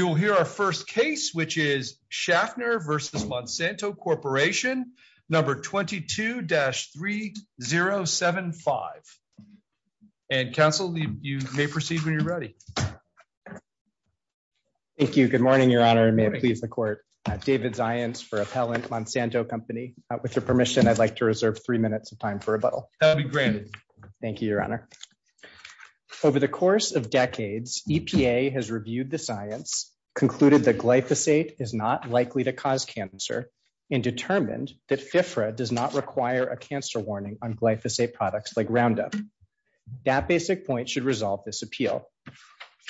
22-3075 22-3075 And counsel, you may proceed when you're ready. Thank you, good morning, Your Honor, and may it please the court. I'm David Zients for Appellant Monsanto Company. With your permission, I'd like to reserve three minutes of time for rebuttal. That will be granted. Thank you, Your Honor. Over the course of decades, EPA has reviewed the science, concluded that glyphosate is not likely to cause cancer, and determined that FIFRA does not require a cancer warning on glyphosate products like Roundup. That basic point should resolve this appeal.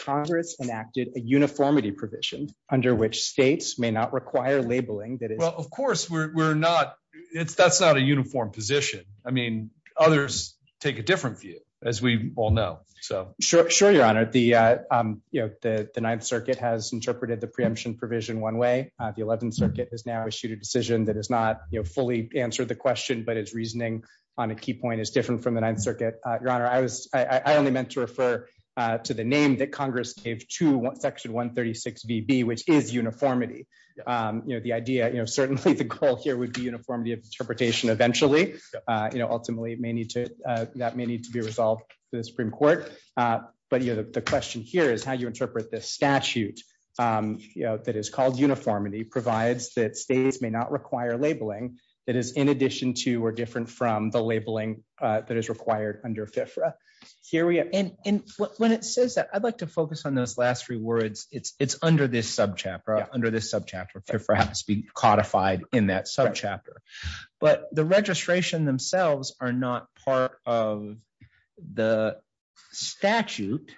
Congress enacted a uniformity provision, under which states may not require labeling that is... Well, of course, we're not, it's, that's not a uniform position. I mean, others take a different view, as we all know, so... Sure, sure, Your Honor, the, you know, the Ninth Circuit has interpreted the preemption provision one way. The Eleventh Circuit has now issued a decision that is not, you know, fully answered the question but its reasoning on a key point is different from the Ninth Circuit. Your Honor, I was, I only meant to refer to the name that Congress gave to Section 136BB, which is uniformity. You know, the idea, you know, certainly the goal here would be uniformity of interpretation eventually, you know, ultimately may need to, that may need to be resolved in the Supreme Court. But, you know, the question here is how you interpret this statute, you know, that is called uniformity provides that states may not require labeling that is in addition to or different from the labeling that is required under FIFRA. And when it says that, I'd like to focus on those last three words, it's under this subchapter, under this subchapter to perhaps be codified in that subchapter, but the registration themselves are not part of the statute,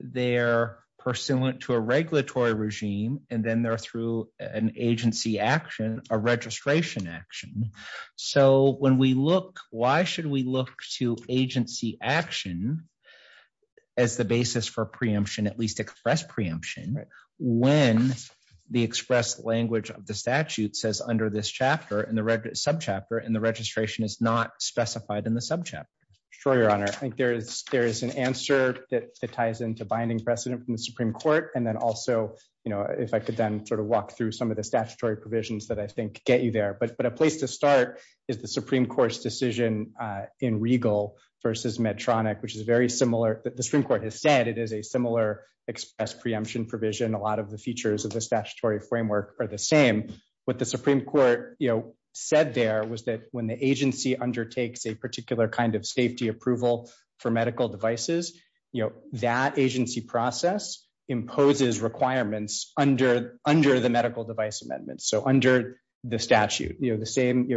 they're pursuant to a regulatory regime, and then they're through an agency action, a registration action. So when we look, why should we look to agency action as the basis for preemption, at least express preemption, when the express language of the statute says under this chapter in the subchapter and the registration is not specified in the subchapter. Sure, Your Honor, I think there is, there is an answer that ties into binding precedent from the Supreme Court, and then also, you know, if I could then sort of walk through some of the statutory provisions that I think get you there, but a place to start is the Supreme Court's decision in Regal versus Medtronic, which is very similar, the Supreme Court has said it is a similar express preemption provision, a lot of the features of the statutory framework are the same. What the Supreme Court, you know, said there was that when the agency undertakes a particular kind of safety approval for medical devices, you know, that agency process imposes requirements under the medical device amendments, so under the statute, you know, the same,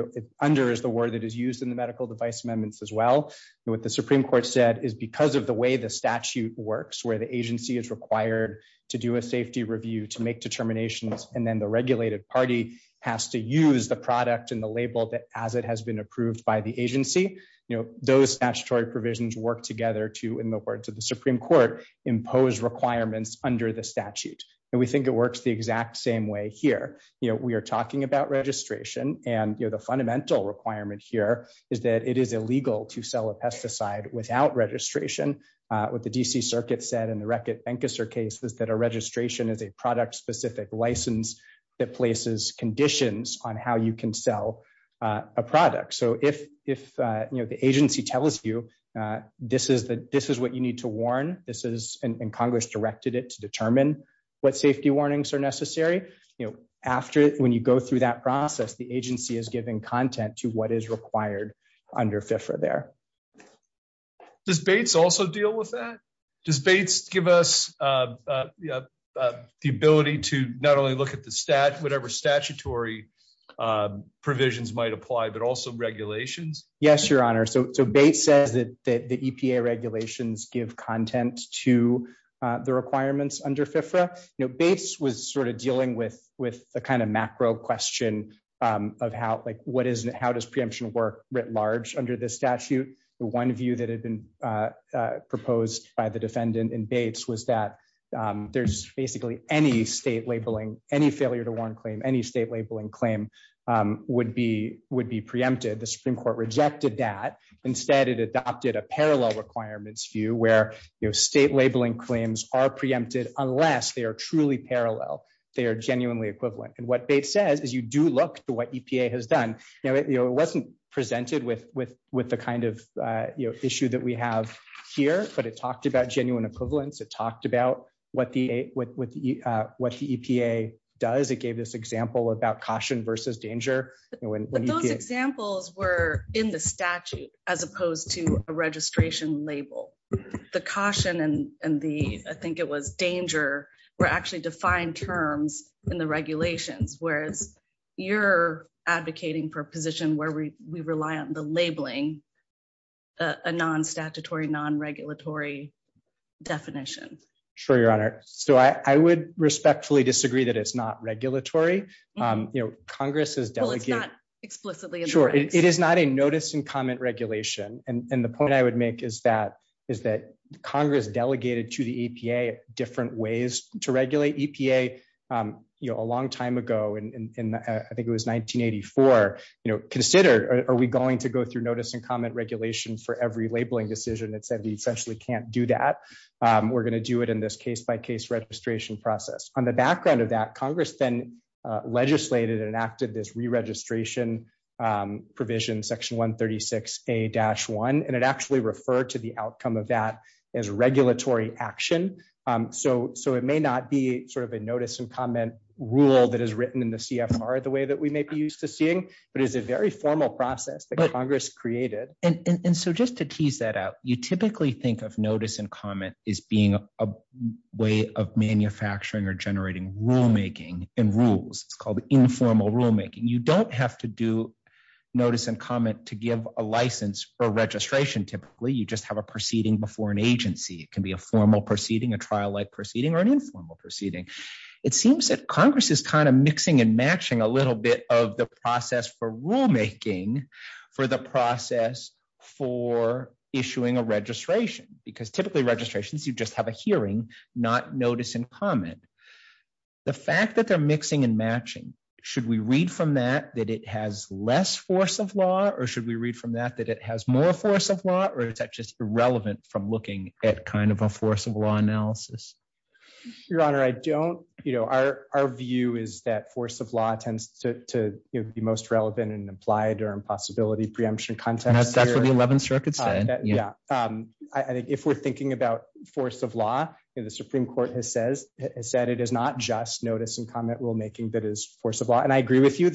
under is the word that is used in the medical device amendments as well. What the Supreme Court said is because of the way the statute works where the agency is required to do a safety review to make determinations, and then the regulated party has to use the product and the label that as it has been approved by the agency, you know, those statutory provisions work together to, in the words of the Supreme Court, impose requirements under the statute, and we think it works the exact same way here. You know, we are talking about registration, and, you know, the fundamental requirement here is that it is illegal to sell a pesticide without registration. What the D.C. Circuit said in the Reckitt-Benckiser case is that a registration is a product-specific license that places conditions on how you can sell a product. So if, you know, the agency tells you this is what you need to warn, this is, and Congress directed it to determine what safety warnings are necessary, you know, after, when you go through that process, the agency is giving content to what is required under FIFRA there. Does Bates also deal with that? Does Bates give us the ability to not only look at the stat, whatever statutory provisions might apply, but also regulations? Yes, Your Honor. So Bates says that the EPA regulations give content to the requirements under FIFRA. You know, Bates was sort of dealing with the kind of macro question of how, like, what is, how does preemption work writ large under this statute. The one view that had been proposed by the defendant in Bates was that there's basically any state labeling, any failure to warn claim, any state labeling claim would be preempted. The Supreme Court rejected that. Instead, it adopted a parallel requirements view where, you know, state labeling claims are preempted unless they are truly parallel, they are genuinely equivalent. And what Bates says is you do look to what EPA has done. You know, it wasn't presented with the kind of issue that we have here, but it talked about genuine equivalence. It talked about what the EPA does. It gave this example about caution versus danger. But those examples were in the statute, as opposed to a registration label. The caution and the, I think it was, danger were actually defined terms in the regulations, whereas you're advocating for a position where we rely on the labeling, a non-statutory, non-regulatory definition. Sure, Your Honor. So I would respectfully disagree that it's not regulatory. You know, Congress has delegated- Well, it's not explicitly in the rights. Sure. It is not a notice and comment regulation. And the point I would make is that, is that Congress delegated to the EPA different ways to regulate EPA. You know, a long time ago, and I think it was 1984, you know, consider, are we going to go through notice and comment regulation for every labeling decision that said we essentially can't do that? We're going to do it in this case-by-case registration process. On the background of that, Congress then legislated and enacted this re-registration provision, Section 136A-1, and it actually referred to the outcome of that as regulatory action. So, it may not be sort of a notice and comment rule that is written in the CFR the way that we may be used to seeing, but it's a very formal process that Congress created. And so just to tease that out, you typically think of notice and comment as being a way of manufacturing or generating rulemaking and rules. It's called informal rulemaking. You don't have to do notice and comment to give a license for registration, typically. You just have a proceeding before an agency. It can be a formal proceeding, a trial-like proceeding, or an informal proceeding. It seems that Congress is kind of mixing and matching a little bit of the process for rulemaking for the process for issuing a registration, because typically registrations, you just have a hearing, not notice and comment. The fact that they're mixing and matching, should we read from that that it has less force of law, or should we read from that that it has more force of law, or is that just irrelevant from looking at kind of a force of law analysis? Your Honor, our view is that force of law tends to be most relevant in implied or impossibility preemption context. That's what the 11th Circuit said. Yeah. I think if we're thinking about force of law, the Supreme Court has said it is not just notice and comment rulemaking that is force of law. And I agree with you.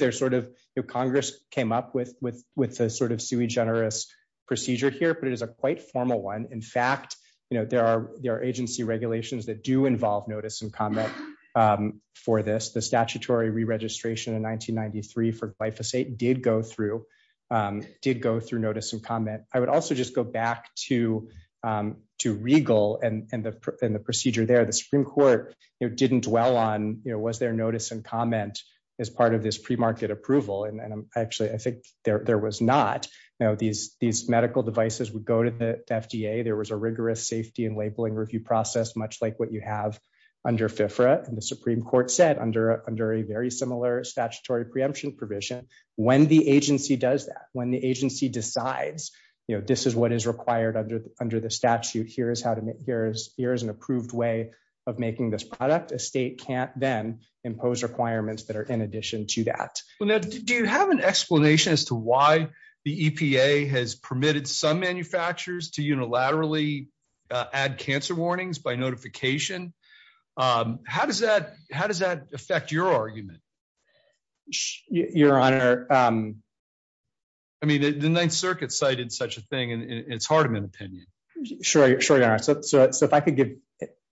Congress came up with a sort of sui generis procedure here, but it is a quite formal one. In fact, there are agency regulations that do involve notice and comment for this. The statutory re-registration in 1993 for glyphosate did go through notice and comment. I would also just go back to Regal and the procedure there. The Supreme Court didn't dwell on was there notice and comment as part of this premarket approval. And actually, I think there was not. These medical devices would go to the FDA. There was a rigorous safety and labeling review process, much like what you have under FIFRA. And the Supreme Court said under a very similar statutory preemption provision, when the agency does that, when the agency decides this is what is required under the statute, here is an approved way of making this product. A state can't then impose requirements that are in addition to that. Well, Ned, do you have an explanation as to why the EPA has permitted some manufacturers to unilaterally add cancer warnings by notification? How does that affect your argument? Your Honor. I mean, the Ninth Circuit cited such a thing and it's hard to make an opinion. Sure, sure. So if I could give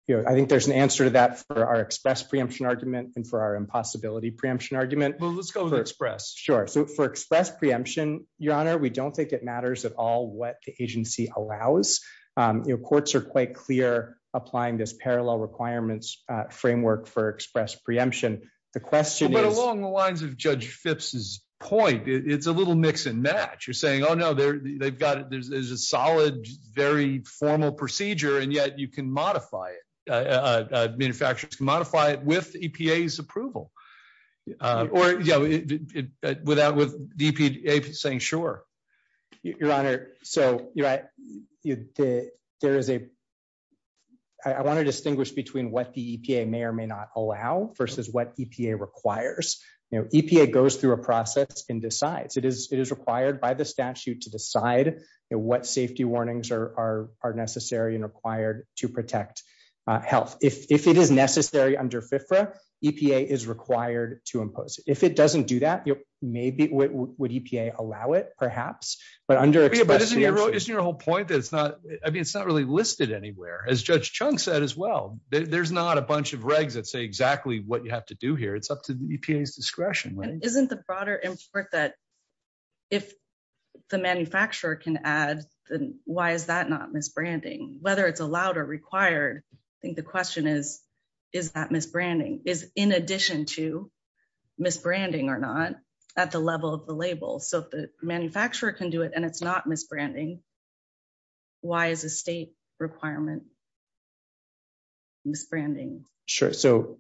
you, I think there's an answer to that for our express preemption argument and for our impossibility preemption argument. Well, let's go with express. Sure. So for express preemption, Your Honor, we don't think it matters at all what the agency allows. Your courts are quite clear applying this parallel requirements framework for express preemption. The question is... But along the lines of Judge Phipps's point, it's a little mix and match. You're saying, oh, no, they've got it. There's a solid, very formal procedure and yet you can modify it. Manufacturers can modify it with EPA's approval. Or, you know, with EPA saying sure. Your Honor, so, you know, there is a... I want to distinguish between what the EPA may or may not allow versus what EPA requires. EPA goes through a process and decides. It is required by the statute to decide what safety warnings are necessary and required to protect health. If it is necessary under FFRA, EPA is required to impose it. If it doesn't do that, maybe would EPA allow it, perhaps? But under express preemption... Isn't your whole point that it's not... I mean, it's not really listed anywhere. As Judge Chung said as well, there's not a bunch of regs that say exactly what you have to do here. It's up to EPA's discretion. Isn't the broader import that if the manufacturer can add, then why is that not misbranding? Whether it's allowed or required, I think the question is, is that misbranding? Is in addition to misbranding or not at the level of the label? So if the manufacturer can do it and it's not misbranding, why is a state requirement misbranding? Sure. So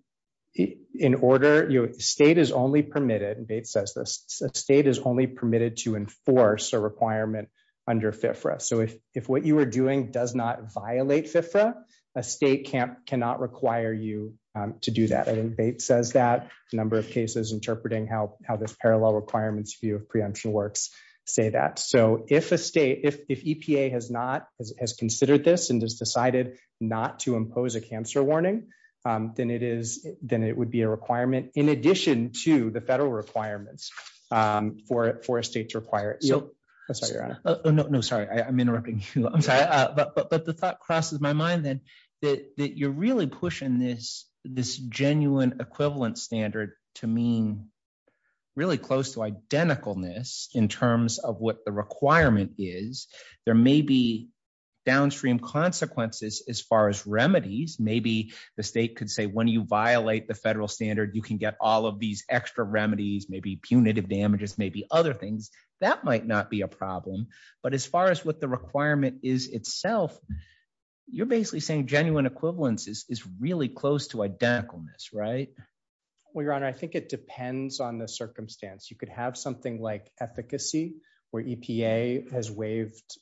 in order... State is only permitted, and Bates says this, a state is only permitted to enforce a requirement under FFRA. So if what you are doing does not violate FFRA, a state cannot require you to do that. I think Bates says that a number of cases interpreting how this parallel requirements view of preemption works say that. So if a state, if EPA has not, has considered this and has decided not to impose a cancer warning, then it would be a requirement in addition to the federal requirements for a state to require it. No, sorry. I'm interrupting you. I'm sorry. But the thought crosses my mind that you're really pushing this genuine equivalent standard to mean really close to identicalness in terms of what the requirement is. There may be downstream consequences as far as remedies. Maybe the state could say, when you violate the federal standard, you can get all of these extra remedies, maybe punitive damages, maybe other things. That might not be a problem. But as far as what the requirement is itself, you're basically saying genuine equivalence is really close to identicalness, right? Well, Your Honor, I think it depends on the circumstance. You could have something like efficacy, where EPA has waived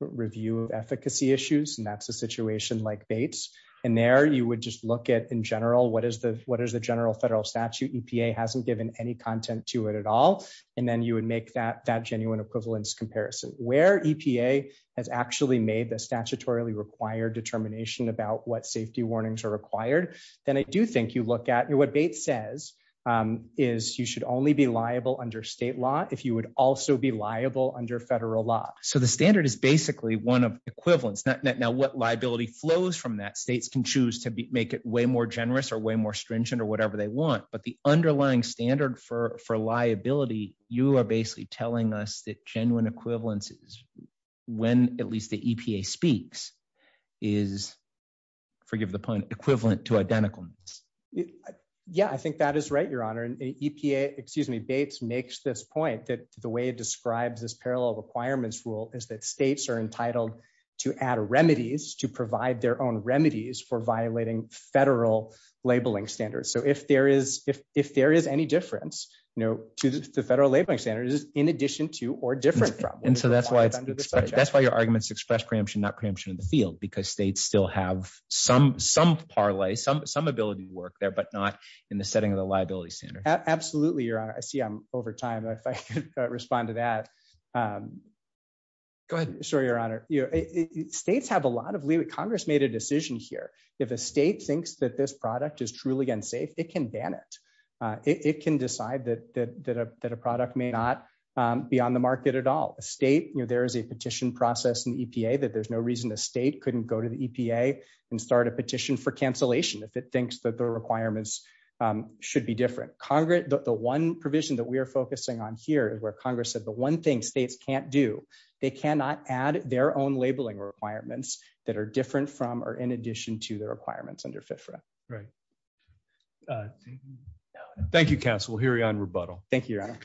review of efficacy issues, and that's a situation like Bates. And there you would just look at, in general, what is the general federal statute? EPA hasn't given any content to it at all. And then you would make that genuine equivalence comparison. Where EPA has actually made the statutorily required determination about what safety warnings are required, then I do think you look at what Bates says is you should only be liable under state law if you would also be liable under federal law. So the standard is basically one of equivalence. Now, what liability flows from that, states can choose to make it way more generous or way more stringent or whatever they want. But the underlying standard for liability, you are basically telling us that genuine equivalence is, when at least the EPA speaks, is, forgive the pun, equivalent to identicalness. Yeah, I think that is right, Your Honor. And EPA, excuse me, Bates makes this point that the way it describes this parallel requirements rule is that states are entitled to add remedies, to provide their own remedies for violating federal labeling standards. So if there is any difference to the federal labeling standards, in addition to or different from. And so that's why your arguments express preemption, not preemption in the field, because states still have some parlay, some ability to work there, but not in the setting of the liability standard. Absolutely, Your Honor. I see I'm over time. If I could respond to that. Sorry, Your Honor. States have a lot of leeway. Congress made a decision here. If a state thinks that this product is truly unsafe, it can ban it. It can decide that a product may not be on the market at all. A state, there is a petition process in the EPA that there's no reason a state couldn't go to the EPA and start a petition for cancellation if it thinks that the requirements should be different. The one provision that we are focusing on here is where Congress said the one thing states can't do, they cannot add their own labeling requirements that are different from or in addition to the requirements under FFRA. Right. Thank you, counsel. Hearing on rebuttal. Thank you, Your Honor.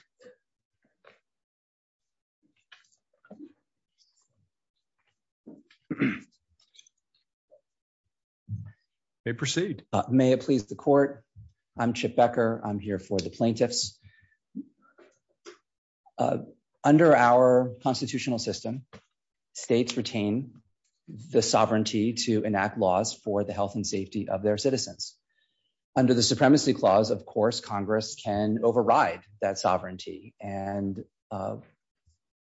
May it please the court. I'm Chip Becker, I'm here for the plaintiffs. Under our constitutional system, states retain the sovereignty to enact laws for the health and safety of their citizens. Under the Supremacy Clause, of course, Congress can override that sovereignty, and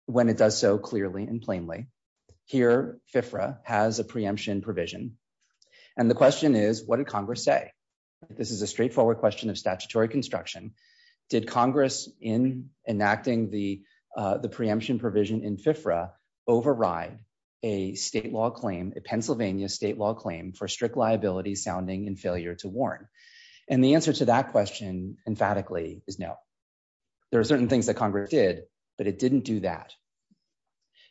when it does so clearly and plainly. Here, FFRA has a preemption provision. And the question is, what did Congress say? This is a straightforward question of statutory construction. Did Congress in enacting the preemption provision in FFRA override a state law claim, a Pennsylvania state law claim for strict liability sounding and failure to warn? And the answer to that question, emphatically, is no. There are certain things that Congress did, but it didn't do that.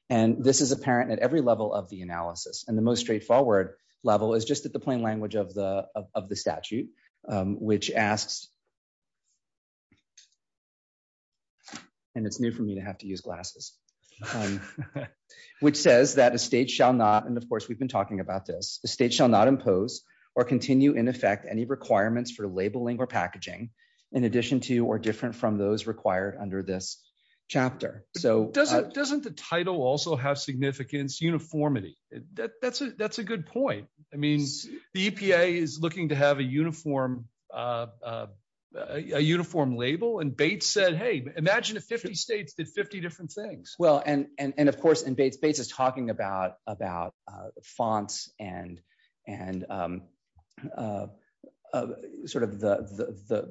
And this is apparent at every level of the analysis and the most straightforward level is just at the plain language of the of the statute, which asks. And it's new for me to have to use glasses. Which says that a state shall not and of course we've been talking about this, the state shall not impose or continue in effect any requirements for labeling or packaging. In addition to or different from those required under this chapter. Doesn't the title also have significance, uniformity? That's a good point. I mean, the EPA is looking to have a uniform label and Bates said, hey, imagine if 50 states did 50 different things. Well, and of course in Bates, Bates is talking about fonts and sort of the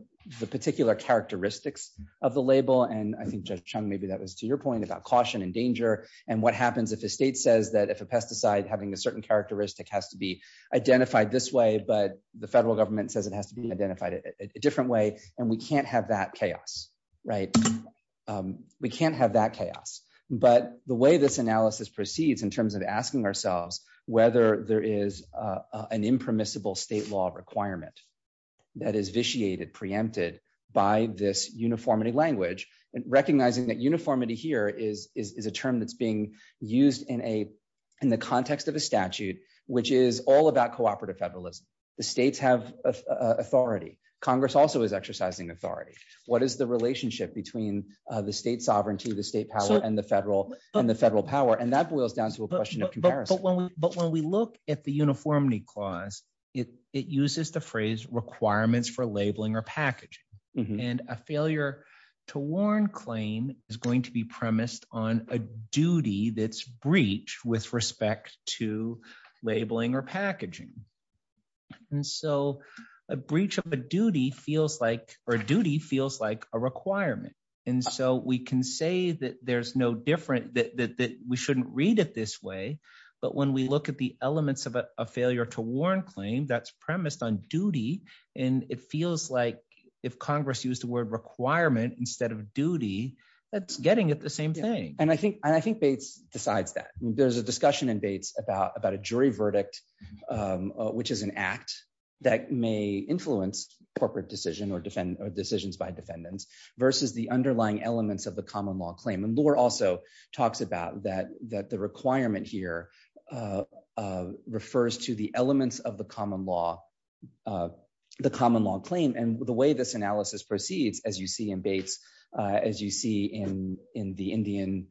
particular characteristics of the label. And I think Judge Chung, maybe that was to your point about caution and danger and what happens if a state says that if a pesticide having a certain characteristic has to be identified this way, but the federal government says it has to be identified a different way, and we can't have that chaos. Right. We can't have that chaos, but the way this analysis proceeds in terms of asking ourselves whether there is an impermissible state law requirement that is vitiated preempted by this uniformity language and recognizing that uniformity here is, is a term that's being used in a, in the context of a statute, which is all about cooperative federalism. The states have authority. Congress also is exercising authority. What is the relationship between the state sovereignty the state power and the federal and the federal power and that boils down to a question of comparison. But when we look at the uniformity clause, it, it uses the phrase requirements for labeling or packaging, and a failure to warn claim is going to be premised on a duty that's breach with respect to labeling or packaging. And so, a breach of a duty feels like or duty feels like a requirement. And so we can say that there's no different that we shouldn't read it this way. But when we look at the elements of a failure to warn claim that's premised on duty, and it feels like if Congress used the word requirement instead of duty, that's getting at the same thing. And I think I think Bates decides that there's a discussion in Bates about about a jury verdict, which is an act that may influence corporate decision or defend decisions by defendants versus the underlying elements of the common law claim and lore also talks about that, that the requirement here refers to the elements of the common law, the common law claim and the way this analysis proceeds as you see in Bates, as you see in in the Indian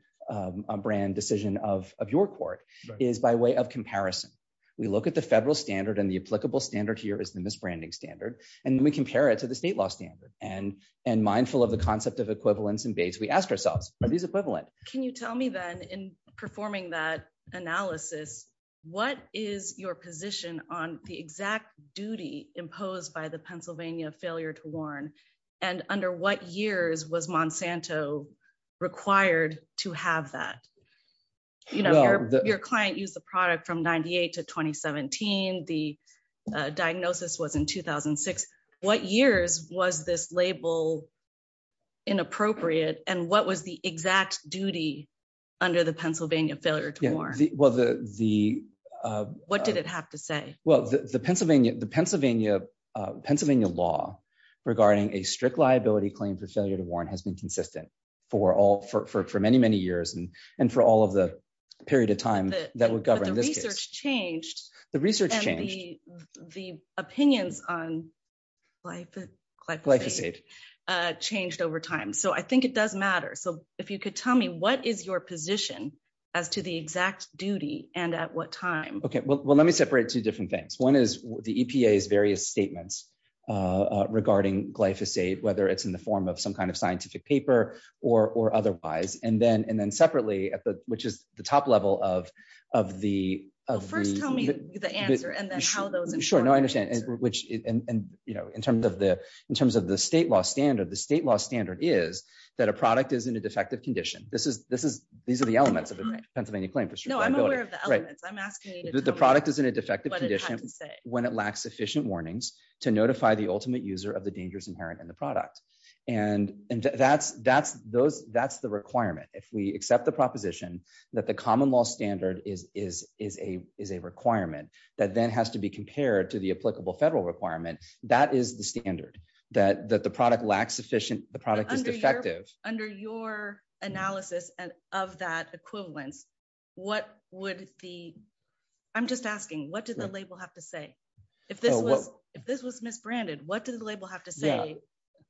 brand decision of your court is by way of comparison, we look at the federal standard and the applicable standard here is the misbranding standard, and we compare it to the state law standard and and mindful of the concept of equivalence and Bates we asked ourselves, are these your client use the product from 98 to 2017, the diagnosis was in 2006. What years was this label inappropriate and what was the exact duty under the Pennsylvania failure to war. Well, the, the, what did it have to say, well the Pennsylvania, the Pennsylvania, Pennsylvania law regarding a strict liability claim for failure to warn has been consistent for all for many, many years and, and for all of the period of time that would change the research, the, the opinions on life glyphosate changed over time so I think it does matter so if you could tell me what is your position as to the exact duty, and at what time, okay well let me separate two different things. One is the EPA is various statements regarding glyphosate whether it's in the form of some kind of scientific paper or otherwise and then and then separately at the, which is the top level of, of the first tell me the answer and then how those things work. Sure, no I understand, which, and, you know, in terms of the, in terms of the state law standard the state law standard is that a product is in a defective condition, this is, this is, these are the elements of the Pennsylvania claim for sure. The product is in a defective condition. When it lacks efficient warnings to notify the ultimate user of the dangerous inherent in the product. And that's, that's those, that's the requirement if we accept the proposition that the common law standard is, is, is a, is a requirement that then has to be compared to the applicable federal requirement. That is the standard that that the product lacks efficient, the product is effective under your analysis and of that equivalence. What would the. I'm just asking what did the label have to say, if this was, if this was misbranded what did the label have to say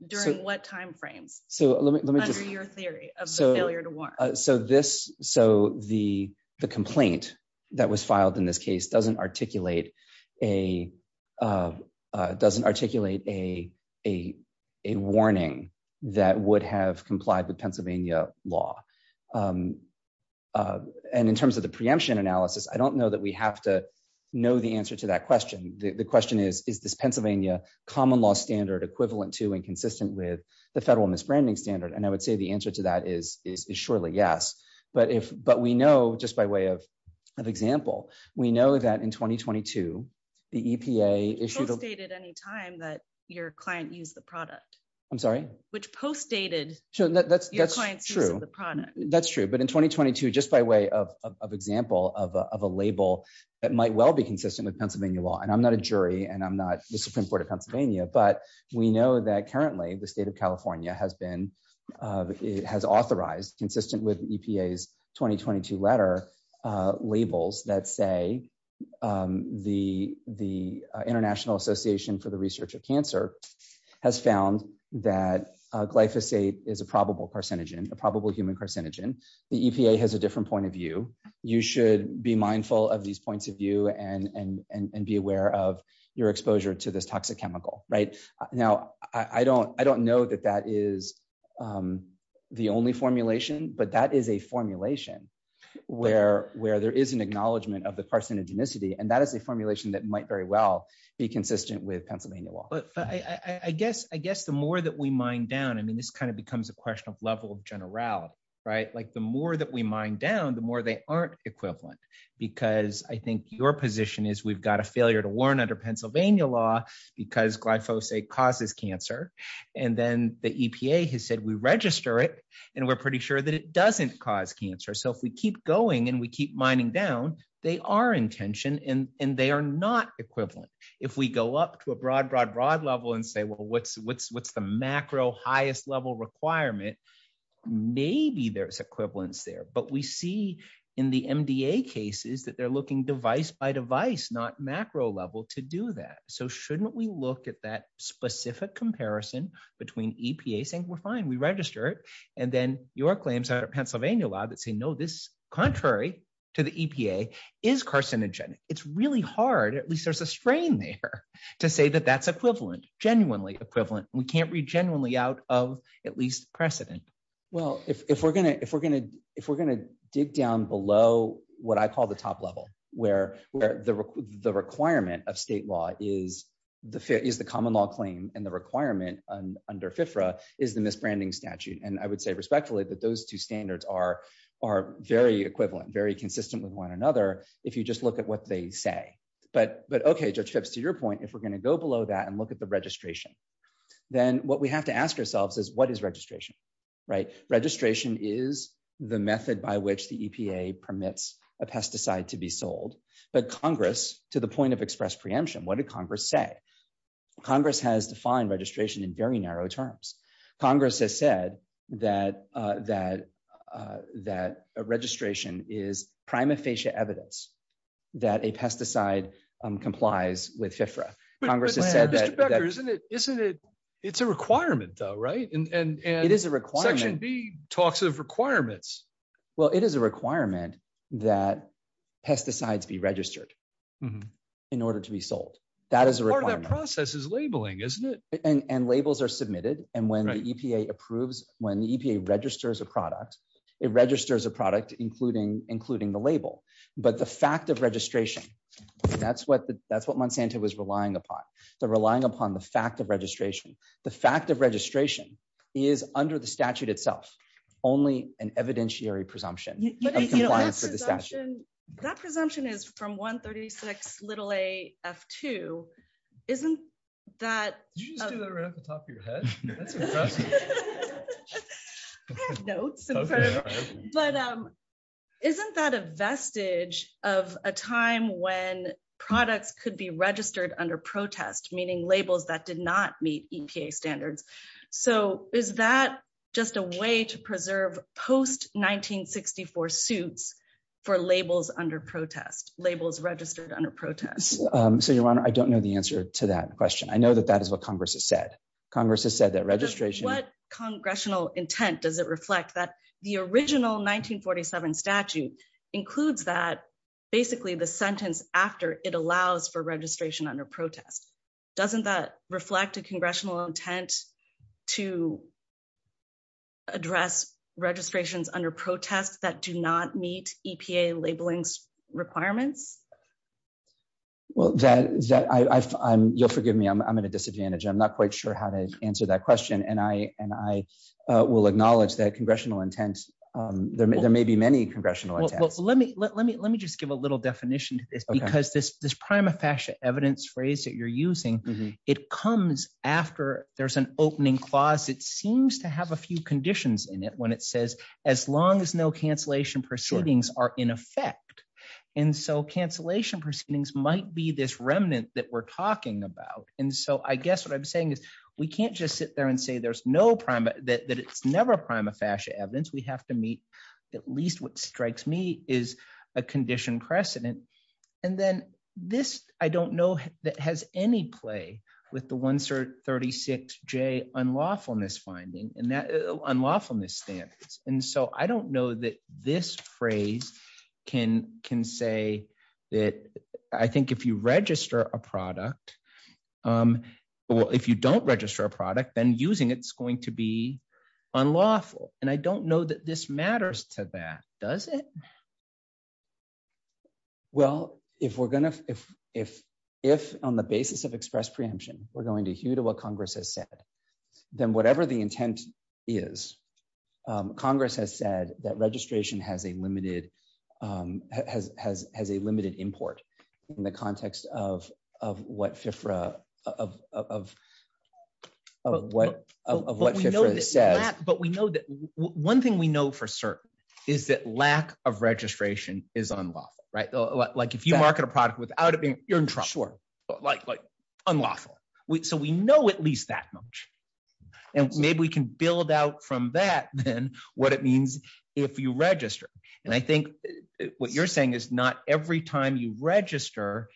during what timeframes. So, let me just hear your theory of failure to work. So this, so the, the complaint that was filed in this case doesn't articulate a doesn't articulate a, a, a warning that would have complied with Pennsylvania law. And in terms of the preemption analysis I don't know that we have to know the answer to that question. The question is, is this Pennsylvania common law standard equivalent to and consistent with the federal misbranding standard and I would say the answer to that is, is that's true but in 2022 just by way of example of a label that might well be consistent with Pennsylvania law and I'm not a jury and I'm not the Supreme Court of Pennsylvania, but we know that currently the state of California has been has authorized the EPA has a different point of view, you should be mindful of these points of view and and be aware of your exposure to this toxic chemical right now, I don't, I don't know that that is the only formulation but that is a formulation, where, where there is an intention right like the more that we mind down the more they aren't equivalent, because I think your position is we've got a failure to warn under Pennsylvania law, because glyphosate causes cancer. And then the EPA has said we register it, and we're pretty sure that it doesn't cause cancer so if we keep going and we keep mining down, they are intention and, and they are not equivalent. If we go up to a broad broad broad level and say well what's what's what's the macro highest level requirement. Maybe there's equivalence there but we see in the MBA cases that they're looking device by device not macro level to do that. So shouldn't we look at that specific comparison between EPA saying we're fine we register it. And then your claims out of Pennsylvania law that say no this contrary to the EPA is carcinogenic, it's really hard at least there's a strain there to say that that's equivalent genuinely equivalent, we can't read genuinely out of at least precedent. Well, if we're going to if we're going to, if we're going to dig down below what I call the top level, where, where the, the requirement of state law is the fit is the common law claim and the requirement under FIFRA is the misbranding statute and I would say respectfully that those two standards are are very equivalent very consistent with one another. If you just look at what they say, but but okay just trips to your point if we're going to go below that and look at the registration. Then what we have to ask ourselves is what is registration right registration is the method by which the EPA permits a pesticide to be sold, but Congress, to the point of express preemption, what did Congress say Congress has defined registration in very narrow terms. Congress has said that, that, that registration is prima facie evidence that a pesticide complies with FIFRA Congress has said that isn't it, isn't it. It's a requirement though right and it is a requirement be talks of requirements. Well, it is a requirement that pesticides be registered. In order to be sold. That is a process is labeling isn't it, and labels are submitted, and when the EPA approves when the EPA registers a product, it registers a product, including, including the label, but the fact of registration. That's what that's what Monsanto was relying upon the relying upon the fact of registration, the fact of registration is under the statute itself, only an evidentiary presumption. That presumption is from 136 little a F2. Isn't that the top of your head. No. But isn't that a vestige of a time when products could be registered under protest meaning labels that did not meet EPA standards. So, is that just a way to preserve post 1964 suits for labels under protest labels registered under protests. Yes. So your honor I don't know the answer to that question I know that that is what Congress has said Congress has said that registration what congressional intent does it reflect that the original 1947 statute includes that basically the sentence after it allows for registration under protest. Doesn't that reflect a congressional intent to address registrations under protest that do not meet EPA labeling requirements. Well, that is that I'm you'll forgive me I'm at a disadvantage I'm not quite sure how to answer that question and I and I will acknowledge that congressional intent. There may there may be many congressional let me let me let me just give a little definition to this because this this prima facie evidence phrase that you're using. It comes after there's an opening clause it seems to have a few conditions in it when it says, as long as no cancellation proceedings are in effect. And so cancellation proceedings might be this remnant that we're talking about. And so I guess what I'm saying is, we can't just sit there and say there's no prime that it's never prima facie evidence we have to meet. At least what strikes me is a condition precedent. And then, this, I don't know that has any play with the 136 J unlawfulness finding and that unlawfulness standards, and so I don't know that this phrase can can say that I think if you register a product. Well, if you don't register a product then using it's going to be unlawful, and I don't know that this matters to that, does it. Well, if we're going to, if, if, if, on the basis of express preemption, we're going to hue to what Congress has said, then whatever the intent is Congress has said that registration has a limited has has has a limited import in the context of, of what is unlawful, right, like if you market a product without it being, you're in trouble, like, like, unlawful, which so we know at least that much. And maybe we can build out from that, then what it means. If you register. And I think what you're saying is not every time you register.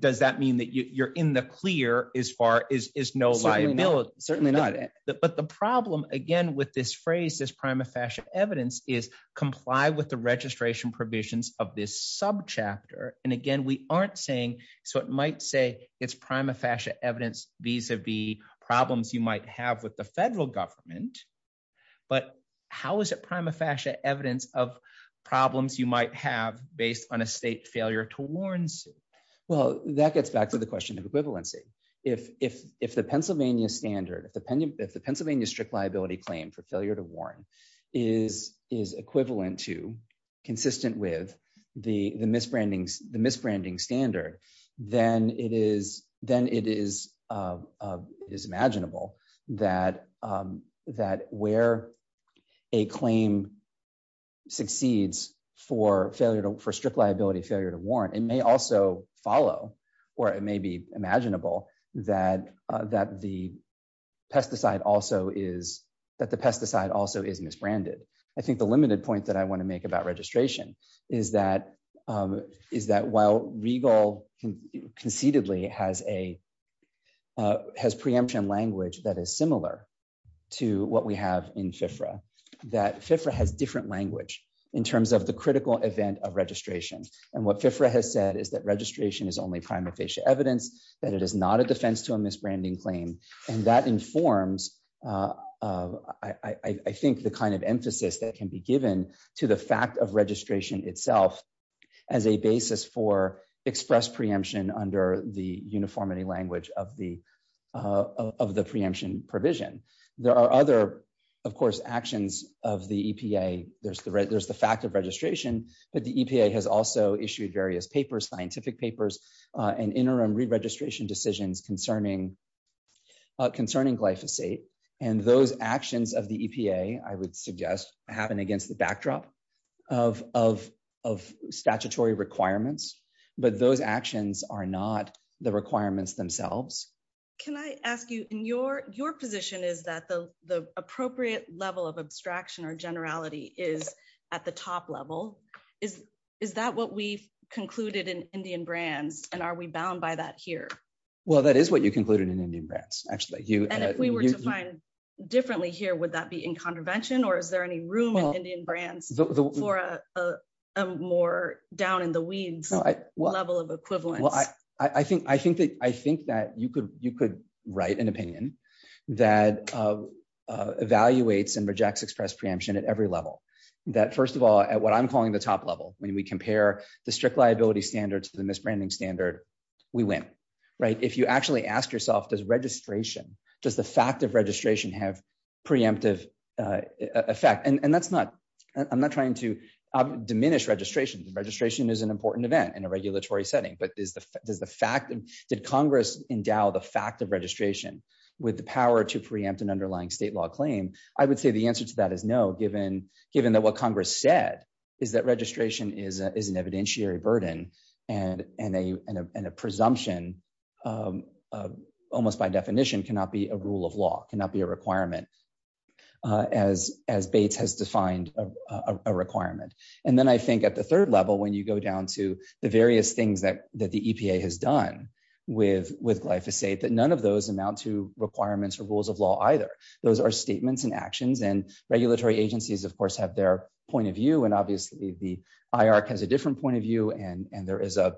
Does that mean that you're in the clear, as far as is no liability, certainly not. But the problem again with this phrase this prima facie evidence is comply with the registration provisions of this sub chapter, and again we aren't saying, so it might say it's prima facie evidence visa be problems you might have with the federal government. But how is it prima facie evidence of problems you might have based on a state failure to Warren's. Well, that gets back to the question of equivalency. If, if, if the Pennsylvania standard if the pennant if the Pennsylvania strict liability claim for failure to Warren is is equivalent to consistent with the the misbranding the misbranding standard, then it is, then it is, is imaginable that that where a claim succeeds for failure to for strict liability failure to warrant and may also follow, or it may be imaginable that that the pesticide also is that the pesticide also is misbranded. I think the limited point that I want to make about registration is that is that while regal concededly has a has preemption language that is similar to what we have in FIFRA that FIFRA has different language in terms of the critical event of registration, and what FIFRA has said is that registration is only prima facie evidence that it is not a defense to a misbranding claim, and that informs. I think the kind of emphasis that can be given to the fact of registration itself as a basis for express preemption under the uniformity language of the of the preemption provision. There are other, of course, actions of the EPA, there's the there's the fact of registration, but the EPA has also issued various papers scientific papers and interim registration decisions concerning concerning glyphosate, and those actions of the EPA, I would say is that the, the appropriate level of abstraction or generality is at the top level is, is that what we've concluded in Indian brands, and are we bound by that here. Well that is what you concluded in Indian brands, actually you and if we were to find differently here would that be in contravention or is there any room in Indian brands for a more down in the weeds. Well, I think I think that I think that you could you could write an opinion that evaluates and rejects express preemption at every level that first of all at what I'm calling the top level, when we compare the strict liability standards to the setting but is the, does the fact that Congress endow the fact of registration with the power to preempt an underlying state law claim, I would say the answer to that is no given, given that what Congress said is that registration is an evidentiary burden, and, and the various things that that the EPA has done with with glyphosate that none of those amount to requirements or rules of law either. Those are statements and actions and regulatory agencies of course have their point of view and obviously the IR has a different point of view and there is a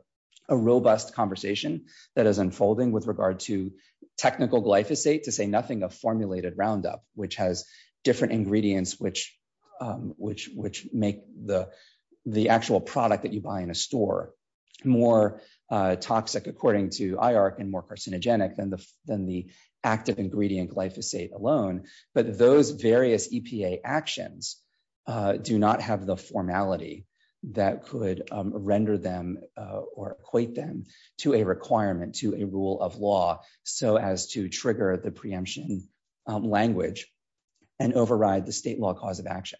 robust conversation that is unfolding with regard to technical glyphosate to say nothing of formulated roundup, which has different ingredients which which which make the, the actual product that you buy in a store, more toxic according to IR and more carcinogenic than the, than the active ingredient glyphosate alone, but those various EPA actions do not have the formality that could render them or equate them to a requirement to a rule of law, so as to trigger the preemption language and override the state law cause of action.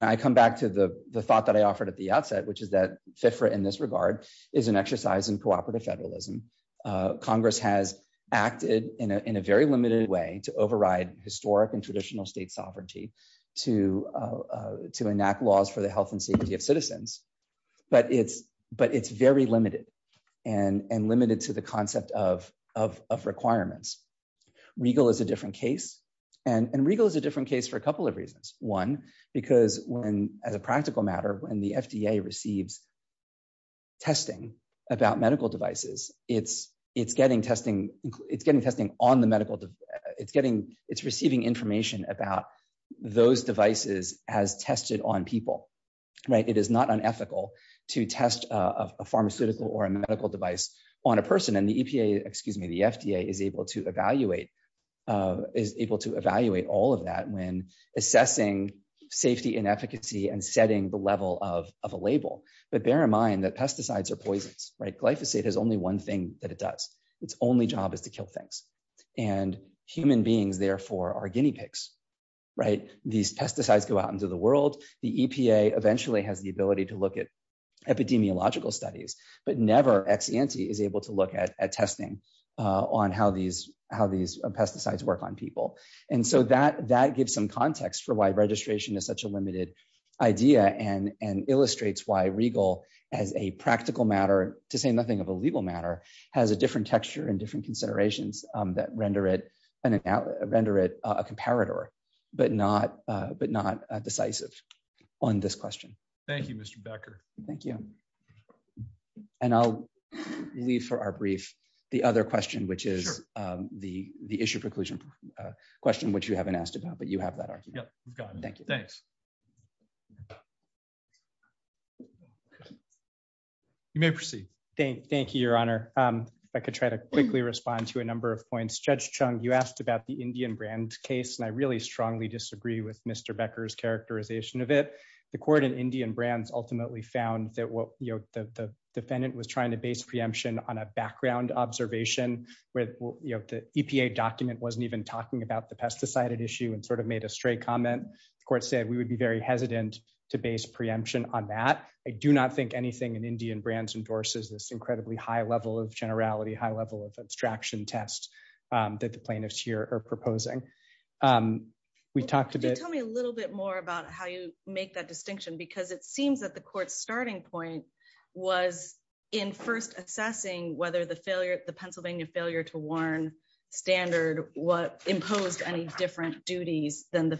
I come back to the, the thought that I offered at the outset which is that different in this regard is an exercise in cooperative federalism. Congress has acted in a very limited way to override historic and traditional state sovereignty, to, to enact laws for the health and safety of citizens, but it's, but it's very limited and and limited to the concept of of requirements. Regal is a different case, and Regal is a different case for a couple of reasons. One, because when, as a practical matter when the FDA receives testing about medical devices, it's, it's getting testing, it's getting testing on the medical, it's getting, it's receiving information about those devices as tested on people, right, it is not unethical to test a pharmaceutical or a medical device on a person and the EPA, excuse me, the FDA is able to evaluate is able to evaluate all of that when assessing safety and efficacy and setting the level of a label, but bear in mind that pesticides are poisons, right glyphosate has only one thing that it does its only job is to kill things, and human beings therefore are guinea pigs. Right, these pesticides go out into the world, the EPA eventually has the ability to look at epidemiological studies, but never ex ante is able to look at testing on how these how these pesticides work on people. And so that that gives some context for why registration is such a limited idea and and illustrates why Regal as a practical matter to say nothing of a legal matter has a different texture and different considerations that render it and render it a comparator, but not, but not decisive on this question. Thank you, Mr. Becker. Thank you. And I'll leave for our brief. The other question which is the the issue preclusion question which you haven't asked about but you have that argument. Thank you. Thanks. You may proceed. Thank you, Your Honor. I could try to quickly respond to a number of points Judge Chung you asked about the Indian brand case and I really strongly disagree with Mr Becker's characterization of it. The court and Indian brands ultimately found that what you know the defendant was trying to base preemption on a background observation with you know the EPA document wasn't even talking about the pesticide issue and sort of made a straight comment, the court said we would be very hesitant to base preemption on that. I do not think anything in Indian brands endorses this incredibly high level of generality high level of abstraction test that the plaintiffs here are proposing. We talked a bit. Tell me a little bit more about how you make that distinction because it seems that the court starting point was in first assessing whether the failure, the Pennsylvania failure to warn standard, what imposed any different duties than the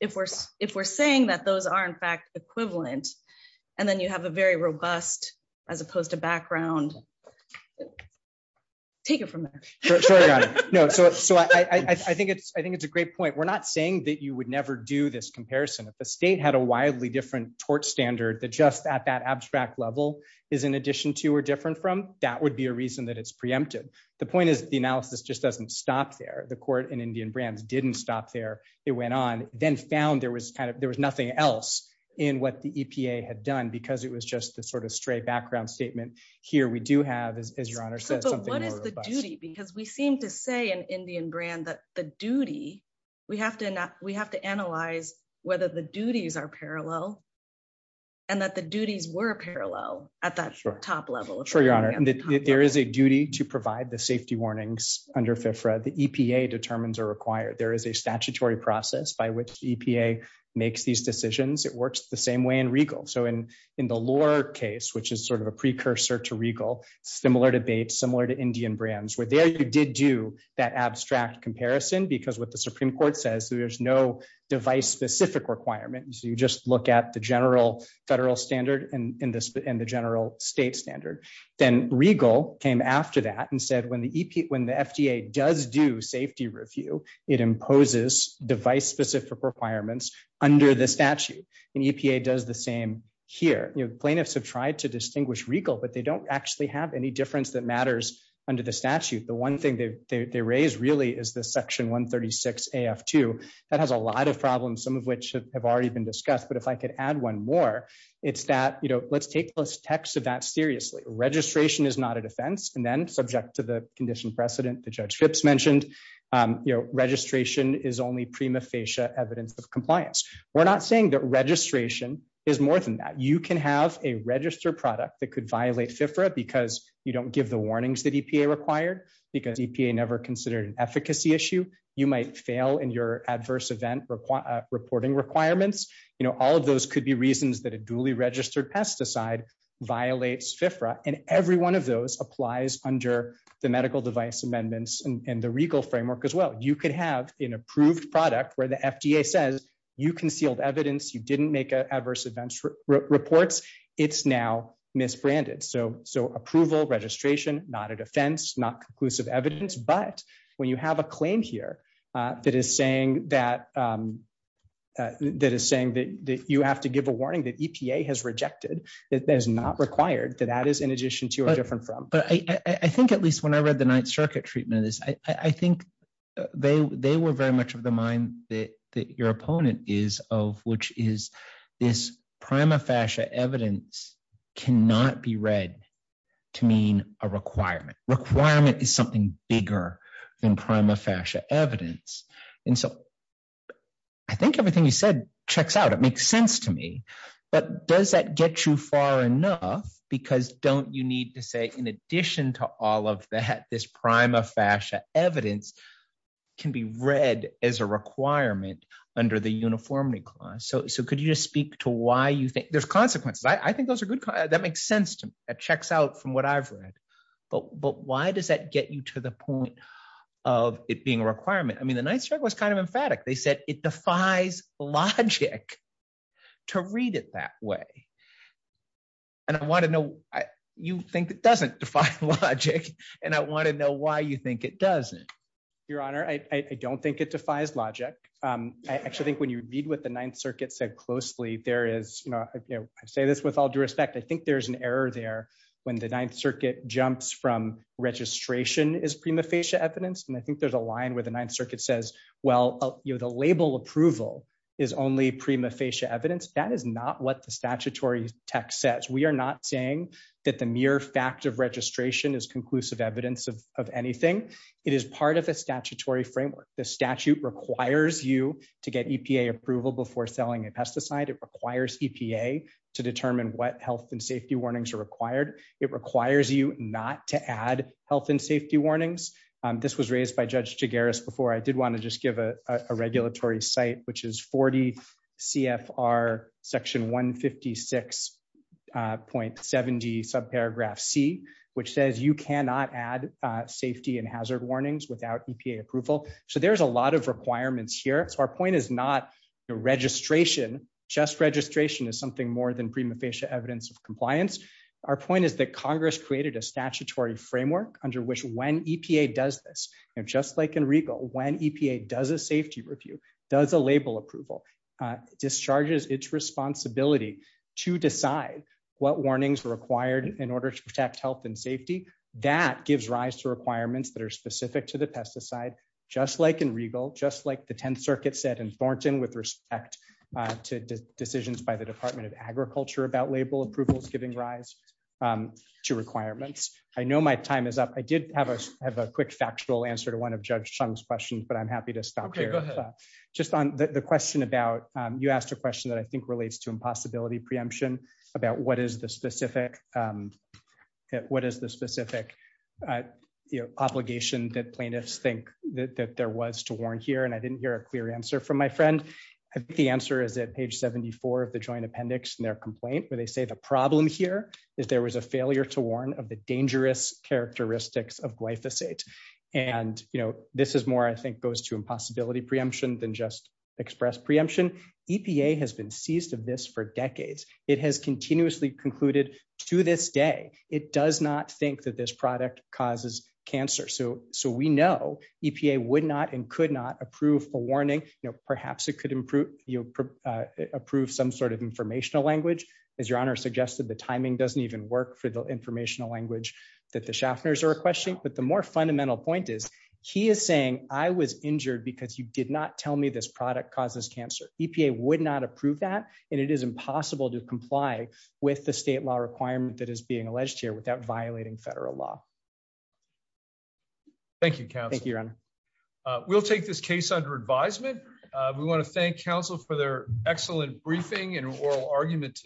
if we're, if we're saying that those are in fact equivalent. And then you have a very robust, as opposed to background. Take it from there. No, so I think it's I think it's a great point we're not saying that you would never do this comparison of the state had a wildly different tort standard that just at that abstract level is in addition to or different from that would be a reason that it's preempted. The point is, the analysis just doesn't stop there the court and Indian brands didn't stop there. It went on, then found there was kind of, there was nothing else in what the EPA had done because it was just the sort of straight background statement. Here we do have is your honor says the duty because we seem to say an Indian brand that the duty. We have to, we have to analyze whether the duties are parallel. And that the duties were parallel at that top level for your honor and that there is a duty to provide the safety warnings under fair for the EPA determines are required there is a statutory process by which EPA makes these decisions, it works the device specific requirements you just look at the general federal standard, and in this in the general state standard, then regal came after that and said when the EP when the FDA does do safety review, it imposes device specific requirements under the statute and EPA does the same here, you know plaintiffs have tried to distinguish regal but they don't actually have any difference that matters under the statute. The one thing that they raised really is the section 136 af to that has a lot of problems, some of which have already been discussed but if I could add one more. It's that, you know, let's take this text of that seriously registration is not a defense and then subject to the condition precedent the judge trips mentioned, you know, registration is only prima facie evidence of compliance. We're not saying that registration is more than that you can have a register product that could violate FIFRA because you don't give the warnings that EPA required, because EPA never considered an efficacy issue, you might fail in your adverse event reporting requirements, you know, all of those could be reasons that a duly registered pesticide violates FIFRA and every one of those applies under the medical device amendments and the regal framework as well, you could have an approved product where the FDA says you concealed evidence you didn't make adverse events reports. It's now misbranded so so approval registration, not a defense not conclusive evidence but when you have a claim here that is saying that that is saying that you have to give a that your opponent is of which is this prima facie evidence cannot be read to mean a requirement requirement is something bigger than prima facie evidence. And so I think everything you said checks out it makes sense to me. But does that get you far enough, because don't you need to say in addition to all of that this prima facie evidence can be read as a requirement under the uniformity clause so so could you just speak to why you think there's consequences I think those are good. That makes sense to me, it checks out from what I've read, but but why does that get you to the point of it being a requirement I mean the nice drug was kind of emphatic they said it defies logic to read it that way. And I want to know, I, you think it doesn't define logic, and I want to know why you think it doesn't. Your Honor I don't think it defies logic. I actually think when you read with the Ninth Circuit said closely there is no, I say this with all due respect, I think there's an error there when the Ninth Circuit jumps from registration is prima facie evidence and I think there's a line where the Ninth Circuit says, well, you know the label approval is only prima facie evidence that is not what the statutory text says we are not saying that the mere fact of registration is conclusive evidence of anything. It is part of a statutory framework, the statute requires you to get EPA approval before selling a pesticide it requires EPA to determine what health and safety warnings are required, it requires you not to add health and safety warnings. This was raised by Judge to Garris before I did want to just give a regulatory site which is 40 CFR section 156 point 70 sub paragraph C, which says you cannot add safety and hazard warnings without EPA approval. So there's a lot of requirements here so our point is not registration, just registration is something more than prima facie evidence of compliance. Our point is that Congress created a statutory framework, under which when EPA does this, and just like in regal when EPA does a safety review does a label approval discharges its responsibility to decide what warnings required in order to protect health and safety that gives rise to requirements that are specific to the pesticide, just like in regal just like the 10th Circuit said in Thornton with respect to decisions by the Department of Agriculture about label approvals giving rise to requirements. I know my time is up, I did have a quick factual answer to one of Judge Chung's questions but I'm happy to stop here. Just on the question about you asked a question that I think relates to impossibility preemption, about what is the specific. What is the specific obligation that plaintiffs think that there was to warn here and I didn't hear a clear answer from my friend. I think the answer is that page 74 of the Joint Appendix and their complaint where they say the problem here is there was a failure to warn of the dangerous characteristics of glyphosate. And, you know, this is more I think goes to impossibility preemption than just express preemption, EPA has been seized of this for decades, it has continuously concluded, to this day, it does not think that this product causes cancer so so we know, EPA would not and could not approve a warning, you know, perhaps it could improve, you approve some sort of informational language, as your honor suggested the timing doesn't even work for the informational language that the shoppers are a question, but the more fundamental point is, he is saying, I was injured because you did not tell me this product causes cancer, EPA would not approve that, and it is impossible to comply with the state law requirement that is being alleged here without violating federal law. Thank you. Thank you. We'll take this case under advisement. We want to thank counsel for their excellent briefing and oral argument today.